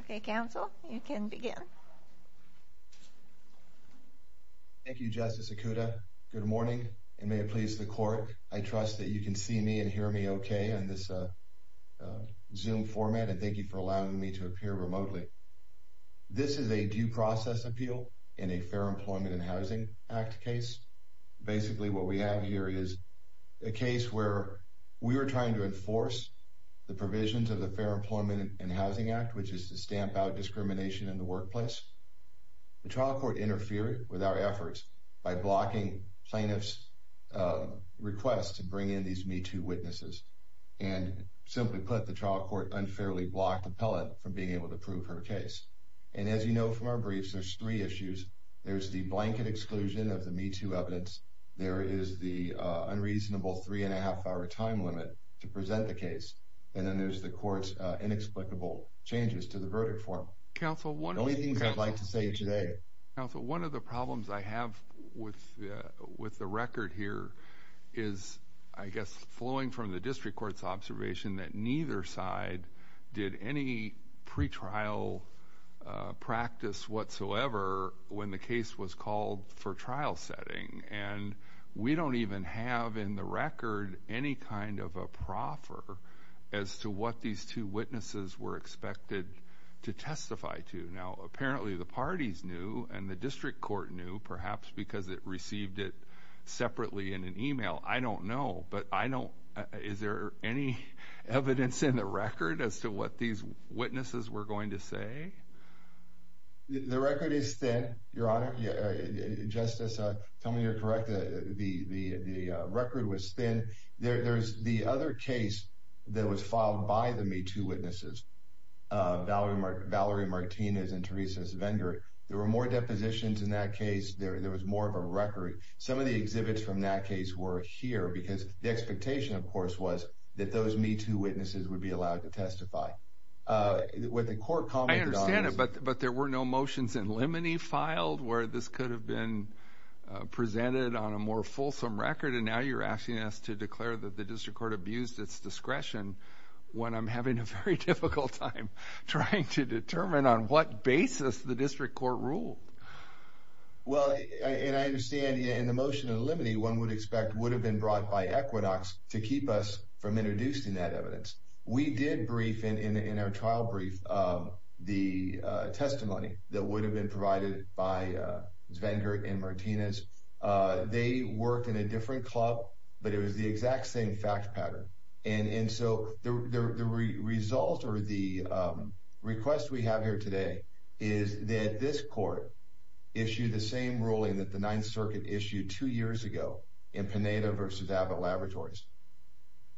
Okay, Counsel, you can begin. Thank you, Justice Okuda. Good morning, and may it please the Court, I trust that you can see me and hear me okay in this Zoom format, and thank you for allowing me to appear remotely. This is a due process appeal in a Fair Employment and Housing Act case. Basically, what we have here is a case where we were trying to enforce the provisions of the Fair Employment and Housing Act, which is to stamp out discrimination in the workplace. The trial court interfered with our efforts by blocking plaintiff's request to bring in these MeToo witnesses, and simply put, the trial court unfairly blocked the appellant from being able to prove her case. And as you know from our briefs, there's three issues. There's the blanket exclusion of the MeToo evidence, there is the unreasonable three and a half hour time limit to present the case, and then there's the court's inexplicable changes to the verdict form. Only things I'd like to say today. Counsel, one of the problems I have with the record here is, I guess, flowing from the district court's observation that neither side did any pretrial practice whatsoever when the case was called for trial setting. And we don't even have in the record any kind of a proffer as to what these two witnesses were expected to testify to. Now, apparently the parties knew, and the district court knew, perhaps because it received it separately in an email. I don't know, but is there any evidence in the record as to what these witnesses were going to say? The record is thin, Your Honor. Justice, tell me you're correct, the record was thin. There's the other case that was filed by the MeToo witnesses, Valerie Martinez and Teresa Svendor. There were more depositions in that case, there was more of a record. Some of the exhibits from that case were here, because the expectation, of course, was that those MeToo witnesses would be allowed to testify. I understand it, but there were no motions in limine filed where this could have been presented on a more fulsome record, and now you're asking us to declare that the district court abused its discretion when I'm having a very difficult time trying to determine on what basis the district court ruled. Well, and I understand, in the motion in limine, one would expect would have been brought by Equinox to keep us from introducing that evidence. We did brief, in our trial brief, the testimony that would have been provided by Svendor and Martinez. They worked in a different club, but it was the exact same fact pattern. And so the result or the request we have here today is that this court issued the same ruling that the Ninth Circuit issued two years ago in Pineda v. Abbott Laboratories.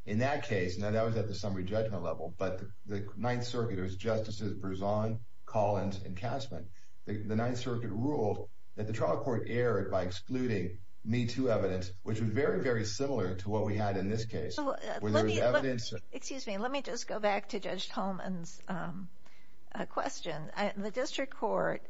In that case, now that was at the summary judgment level, but the Ninth Circuit, it was Justices Berzon, Collins, and Kasman. The Ninth Circuit ruled that the trial court erred by excluding MeToo evidence, which was very, very similar to what we had in this case. Excuse me, let me just go back to Judge Tolman's question. The district court,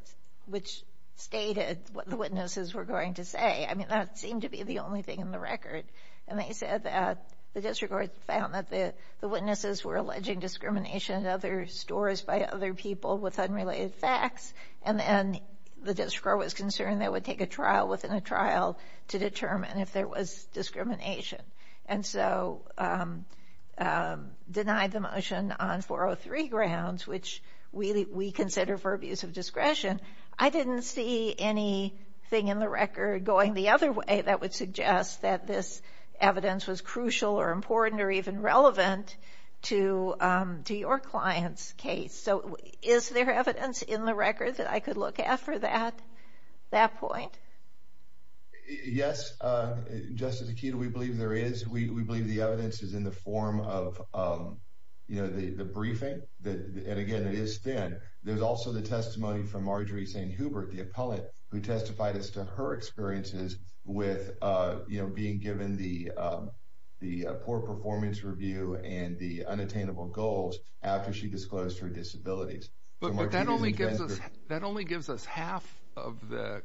which stated what the witnesses were going to say, I mean, that seemed to be the only thing in the record. And they said that the district court found that the witnesses were alleging discrimination in other stores by other people with unrelated facts. And then the district court was concerned they would take a trial within a trial to determine if there was discrimination. And so denied the motion on 403 grounds, which we consider for abuse of discretion. I didn't see anything in the record going the other way that would suggest that this evidence was crucial or important or even relevant to your client's case. So is there evidence in the record that I could look at for that point? Yes, Justice Akito, we believe there is. We believe the evidence is in the form of the briefing. And again, it is thin. There's also the testimony from Marjorie St. Hubert, the appellant who testified as to her experiences with being given the poor performance review and the unattainable goals after she disclosed her disabilities. But that only gives us that only gives us half of the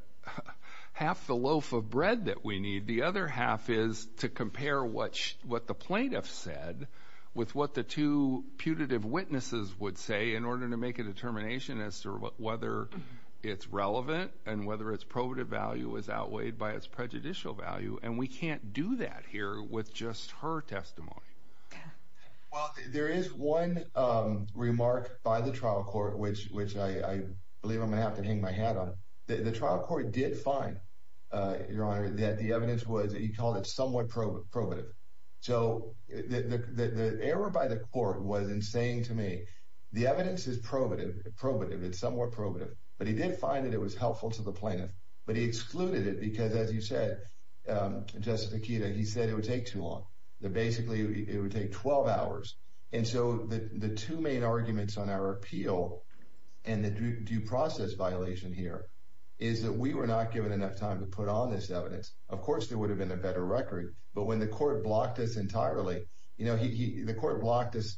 half the loaf of bread that we need. The other half is to compare what what the plaintiff said with what the two putative witnesses would say in order to make a determination as to whether it's relevant and whether it's probative value is outweighed by its prejudicial value. And we can't do that here with just her testimony. Well, there is one remark by the trial court, which which I believe I'm going to have to hang my hat on. The trial court did find your honor that the evidence was that he called it somewhat probative. So the error by the court was insane to me. The evidence is probative, probative. It's somewhat probative. But he did find that it was helpful to the plaintiff. But he excluded it because, as you said, Justice Akita, he said it would take too long. Basically, it would take 12 hours. And so the two main arguments on our appeal and the due process violation here is that we were not given enough time to put on this evidence. Of course, there would have been a better record. But when the court blocked us entirely, you know, he the court blocked us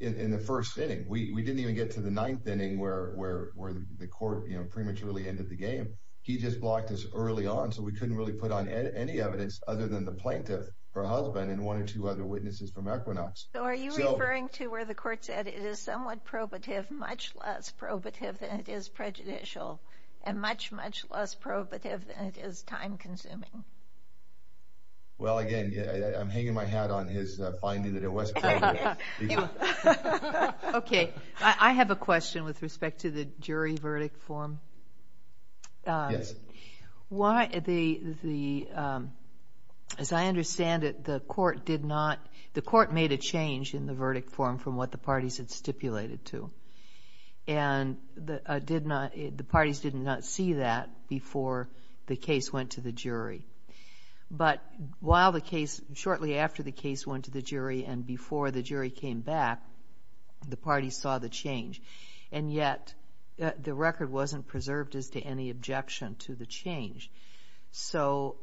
in the first sitting. We didn't even get to the ninth inning where where where the court prematurely ended the game. He just blocked us early on. So we couldn't really put on any evidence other than the plaintiff or husband and one or two other witnesses from Equinox. So are you referring to where the court said it is somewhat probative, much less probative than it is prejudicial and much, much less probative than it is time consuming? Well, again, I'm hanging my hat on his finding that it was OK. OK, I have a question with respect to the jury verdict form. Yes. Why the the. As I understand it, the court did not. The court made a change in the verdict form from what the parties had stipulated to. And the did not. But while the case shortly after the case went to the jury and before the jury came back, the party saw the change. And yet the record wasn't preserved as to any objection to the change. So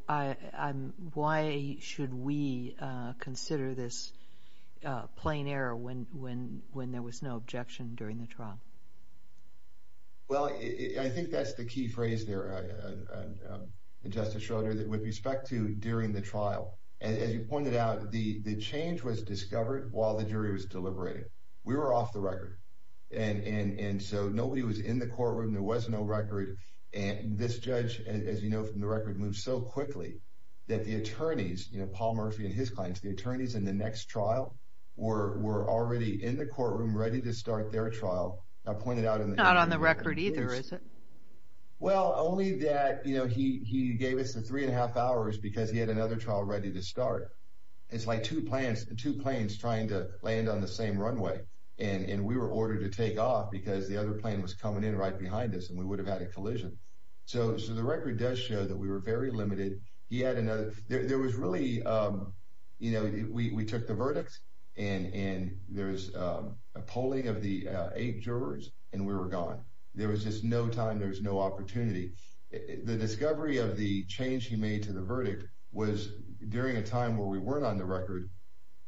why should we consider this plain error when when when there was no objection during the trial? Well, I think that's the key phrase there, Justice Schroeder, that with respect to during the trial, as you pointed out, the change was discovered while the jury was deliberating. We were off the record. And so nobody was in the courtroom. There was no record. And this judge, as you know from the record, moves so quickly that the attorneys, you know, Paul Murphy and his clients, the attorneys in the next trial were were already in the courtroom ready to start their trial. I pointed out on the record either, is it? Well, only that, you know, he he gave us the three and a half hours because he had another trial ready to start. It's like two plans, two planes trying to land on the same runway. And we were ordered to take off because the other plane was coming in right behind us and we would have had a collision. So the record does show that we were very limited. He had another. There was really, you know, we took the verdict. And there is a polling of the eight jurors and we were gone. There was just no time. There was no opportunity. The discovery of the change he made to the verdict was during a time where we weren't on the record.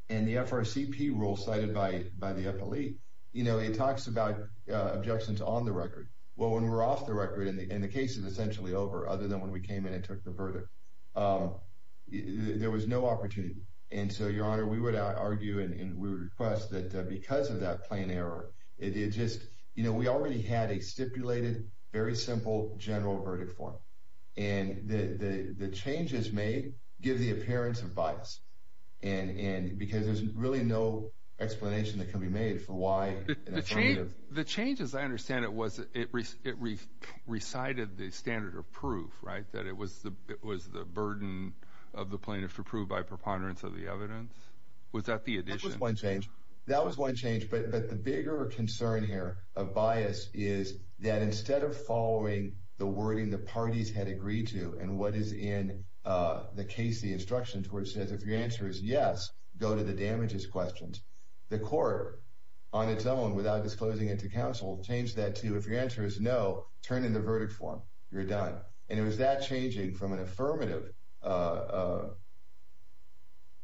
And the FRCP rule cited by by the FLE, you know, it talks about objections on the record. Well, when we're off the record and the case is essentially over, other than when we came in and took the verdict, there was no opportunity. And so, Your Honor, we would argue and we request that because of that plane error, it is just, you know, we already had a stipulated, very simple general verdict form. And the changes made give the appearance of bias. And because there's really no explanation that can be made for why. The change, as I understand it, was it recited the standard of proof, right? That it was the it was the burden of the plaintiff to prove by preponderance of the evidence. Was that the addition? One change. That was one change. But the bigger concern here of bias is that instead of following the wording the parties had agreed to and what is in the case, the instructions where it says, if your answer is yes, go to the damages questions. The court, on its own, without disclosing it to counsel, changed that to if your answer is no, turn in the verdict form. You're done. And it was that changing from an affirmative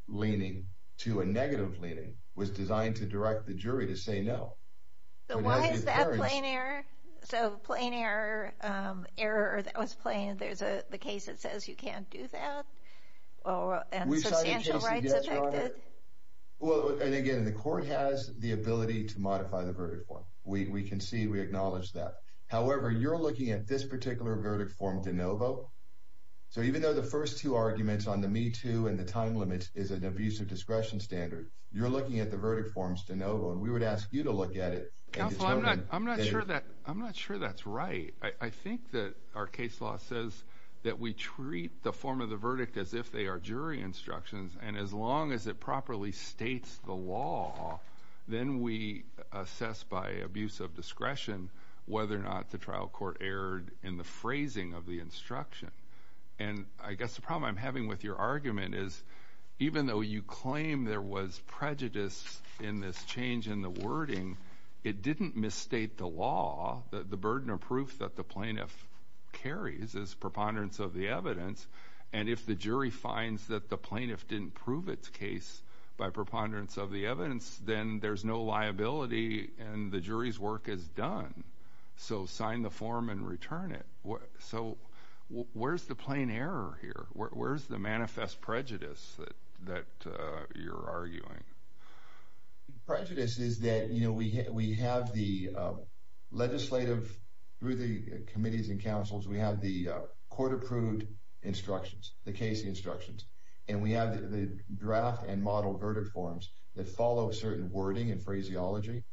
leaning to a negative leaning was designed to direct the jury to say no. So why is that plane error? So plane error, error, that was plane. There's a case that says you can't do that. And substantial rights affected. Well, and again, the court has the ability to modify the verdict form. We can see we acknowledge that. However, you're looking at this particular verdict form de novo. So even though the first two arguments on the me too and the time limits is an abusive discretion standard. You're looking at the verdict forms de novo. And we would ask you to look at it. I'm not sure that I'm not sure that's right. I think that our case law says that we treat the form of the verdict as if they are jury instructions. And as long as it properly states the law, then we assess by abuse of discretion whether or not the trial court erred in the phrasing of the instruction. And I guess the problem I'm having with your argument is even though you claim there was prejudice in this change in the wording, it didn't misstate the law. The burden of proof that the plaintiff carries is preponderance of the evidence. And if the jury finds that the plaintiff didn't prove its case by preponderance of the evidence, then there's no liability and the jury's work is done. So sign the form and return it. So where's the plain error here? Where's the manifest prejudice that you're arguing? Prejudice is that we have the legislative, through the committees and councils, we have the court-approved instructions, the case instructions. And we have the draft and model verdict forms that follow certain wording and phraseology.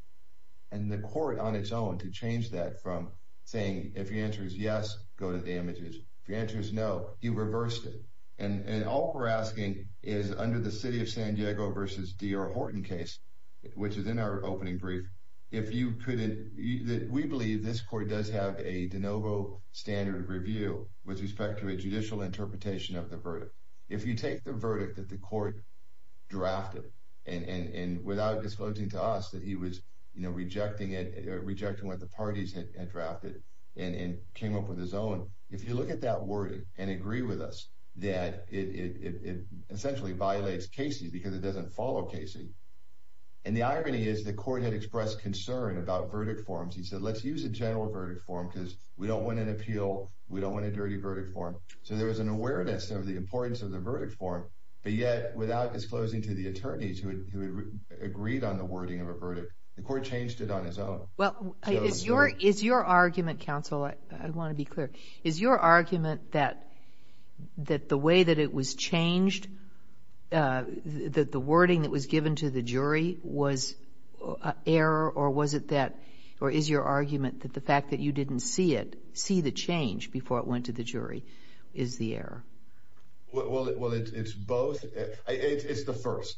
And the court, on its own, to change that from saying, if your answer is yes, go to the images. If your answer is no, you reversed it. And all we're asking is under the city of San Diego versus D.R. Horton case, which is in our opening brief, if you couldn't, we believe this court does have a de novo standard review with respect to a judicial interpretation of the verdict. If you take the verdict that the court drafted, and without disclosing to us that he was rejecting it or rejecting what the parties had drafted and came up with his own, if you look at that wording and agree with us that it essentially violates Casey because it doesn't follow Casey. And the irony is the court had expressed concern about verdict forms. He said, let's use a general verdict form because we don't want an appeal. We don't want a dirty verdict form. So there was an awareness of the importance of the verdict form. But yet, without disclosing to the attorneys who had agreed on the wording of a verdict, the court changed it on its own. Well, is your argument, counsel, I want to be clear. Is your argument that the way that it was changed, that the wording that was given to the jury was error? Or is your argument that the fact that you didn't see it, see the change before it went to the jury is the error? Well, it's both. It's the first.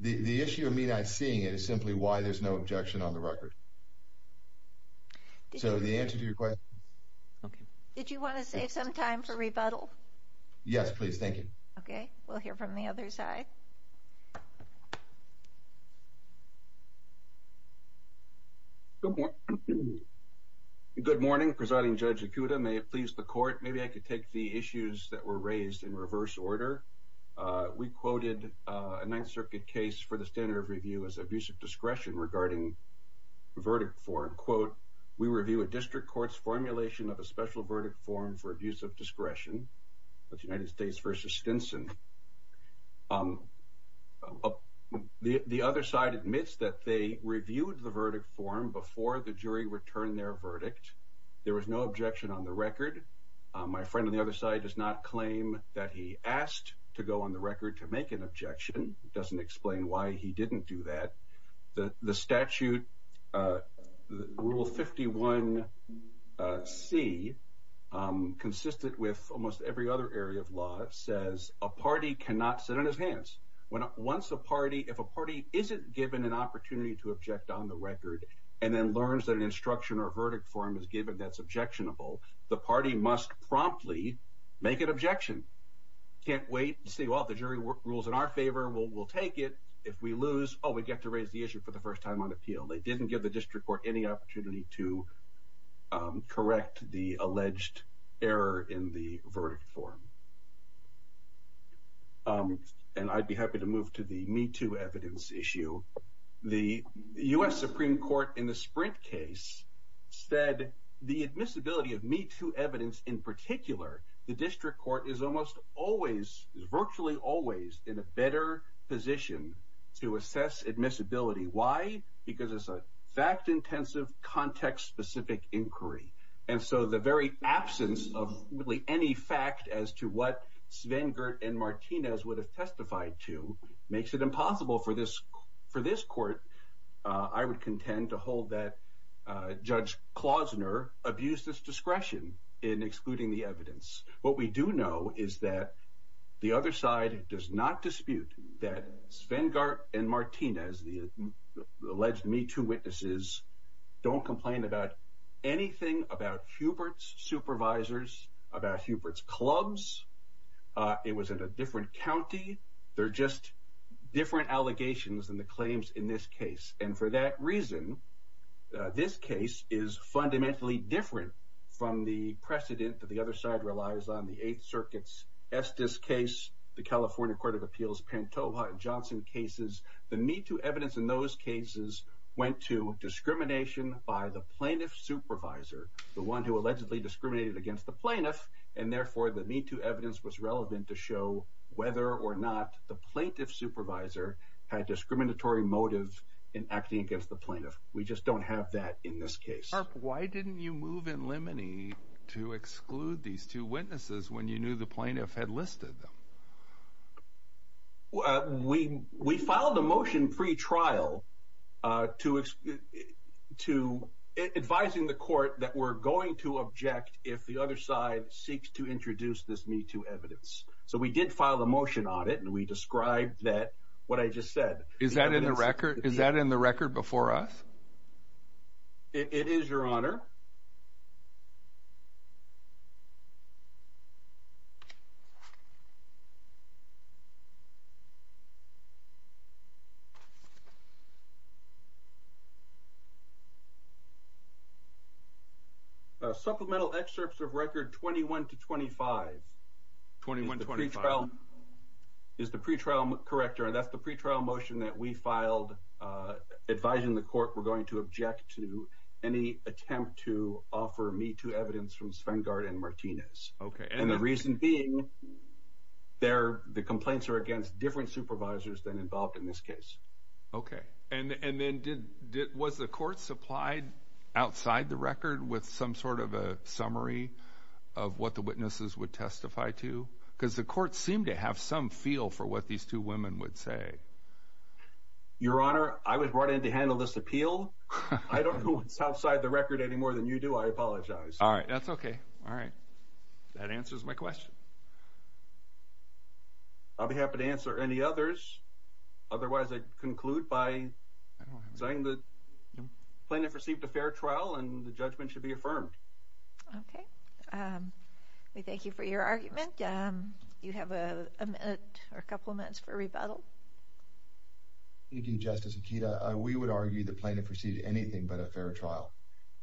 The issue of me not seeing it is simply why there's no objection on the record. So the answer to your question. Did you want to save some time for rebuttal? Yes, please. Thank you. Okay. We'll hear from the other side. Good morning. Good morning. Presiding Judge Ikuda, may it please the court, maybe I could take the issues that were raised in reverse order. We quoted a Ninth Circuit case for the standard of review as abusive discretion regarding the verdict form. Quote, we review a district court's formulation of a special verdict form for abuse of discretion. That's United States versus Stinson. The other side admits that they reviewed the verdict form before the jury returned their verdict. There was no objection on the record. My friend on the other side does not claim that he asked to go on the record to make an objection. It doesn't explain why he didn't do that. The statute, Rule 51C, consistent with almost every other area of law, says a party cannot sit on his hands. Once a party, if a party isn't given an opportunity to object on the record and then learns that an instruction or verdict form is given that's objectionable, the party must promptly make an objection. Can't wait and say, well, the jury rules in our favor, we'll take it. If we lose, oh, we get to raise the issue for the first time on appeal. They didn't give the district court any opportunity to correct the alleged error in the verdict form. And I'd be happy to move to the Me Too evidence issue. The U.S. Supreme Court in the Sprint case said the admissibility of Me Too evidence in particular, the district court is almost always, virtually always, in a better position to assess admissibility. Why? Because it's a fact-intensive, context-specific inquiry. And so the very absence of really any fact as to what Svengert and Martinez would have testified to makes it impossible for this court. I would contend to hold that Judge Klausner abused his discretion in excluding the evidence. What we do know is that the other side does not dispute that Svengert and Martinez, the alleged Me Too witnesses, don't complain about anything about Hubert's supervisors, about Hubert's clubs. It was in a different county. They're just different allegations than the claims in this case. And for that reason, this case is fundamentally different from the precedent that the other side relies on. The Eighth Circuit's Estes case, the California Court of Appeals' Pantoja and Johnson cases, the Me Too evidence in those cases went to discrimination by the plaintiff's supervisor, the one who allegedly discriminated against the plaintiff, and therefore the Me Too evidence was relevant to show whether or not the plaintiff's supervisor had discriminatory motives in acting against the plaintiff. We just don't have that in this case. Why didn't you move in limine to exclude these two witnesses when you knew the plaintiff had listed them? We filed a motion pre-trial advising the court that we're going to object if the other side seeks to introduce this Me Too evidence. So we did file a motion on it, and we described what I just said. Is that in the record before us? It is, Your Honor. Supplemental excerpts of record 21 to 25 is the pre-trial corrector, and that's the pre-trial motion that we filed advising the court we're going to object to any attempt to offer Me Too evidence from Svengard and Martinez. Okay. And the reason being, the complaints are against different supervisors than involved in this case. Okay. And then was the court supplied outside the record with some sort of a summary of what the witnesses would testify to? Because the court seemed to have some feel for what these two women would say. Your Honor, I was brought in to handle this appeal. I don't know what's outside the record any more than you do. I apologize. All right. That's okay. All right. That answers my question. I'll be happy to answer any others. Otherwise, I conclude by saying the plaintiff received a fair trial, and the judgment should be affirmed. Okay. We thank you for your argument. You have a minute or a couple of minutes for rebuttal. Thank you, Justice Akita. We would argue the plaintiff received anything but a fair trial.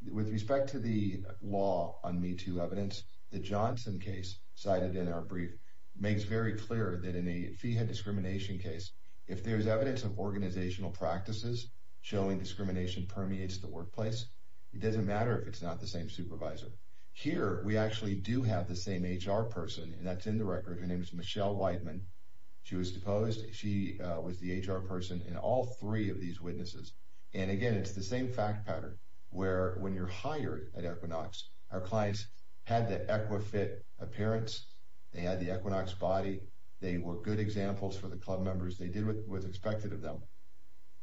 With respect to the law on MeToo evidence, the Johnson case cited in our brief makes very clear that in a feehead discrimination case, if there's evidence of organizational practices showing discrimination permeates the workplace, it doesn't matter if it's not the same supervisor. Here, we actually do have the same HR person, and that's in the record. Her name is Michelle Weidman. She was deposed. She was the HR person in all three of these witnesses. And, again, it's the same fact pattern where when you're hired at Equinox, our clients had the EquiFit appearance. They had the Equinox body. They were good examples for the club members. They did what was expected of them.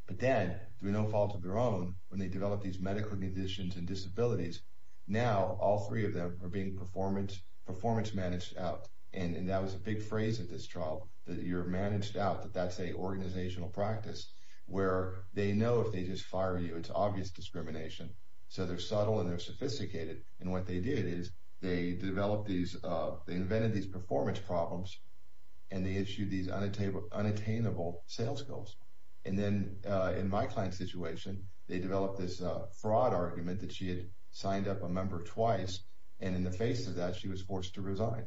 But then, through no fault of their own, when they developed these medical conditions and disabilities, now all three of them are being performance managed out. And that was a big phrase at this trial, that you're managed out, that that's a organizational practice, where they know if they just fire you, it's obvious discrimination. So they're subtle and they're sophisticated. And what they did is they invented these performance problems, and they issued these unattainable sales goals. And then, in my client's situation, they developed this fraud argument that she had signed up a member twice, and in the face of that, she was forced to resign.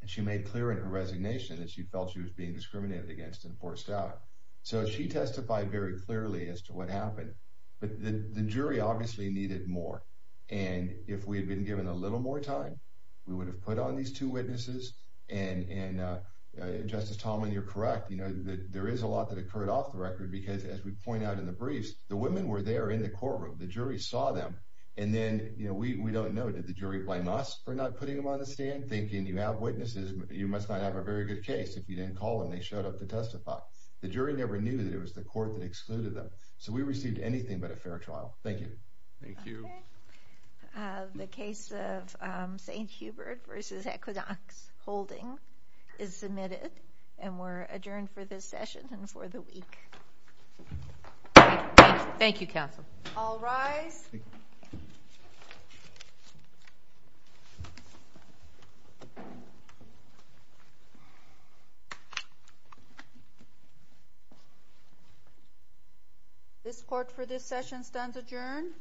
And she made clear in her resignation that she felt she was being discriminated against and forced out. So she testified very clearly as to what happened. But the jury obviously needed more. And if we had been given a little more time, we would have put on these two witnesses. And, Justice Tomlin, you're correct. There is a lot that occurred off the record because, as we point out in the briefs, the women were there in the courtroom. The jury saw them. And then we don't know. Did the jury blame us for not putting them on the stand, thinking you have witnesses? You must not have a very good case if you didn't call them. And they showed up to testify. The jury never knew that it was the court that excluded them. So we received anything but a fair trial. Thank you. Thank you. Okay. The case of St. Hubert v. Equinox Holding is submitted, and we're adjourned for this session and for the week. Thank you, Counsel. All rise. This court for this session stands adjourned.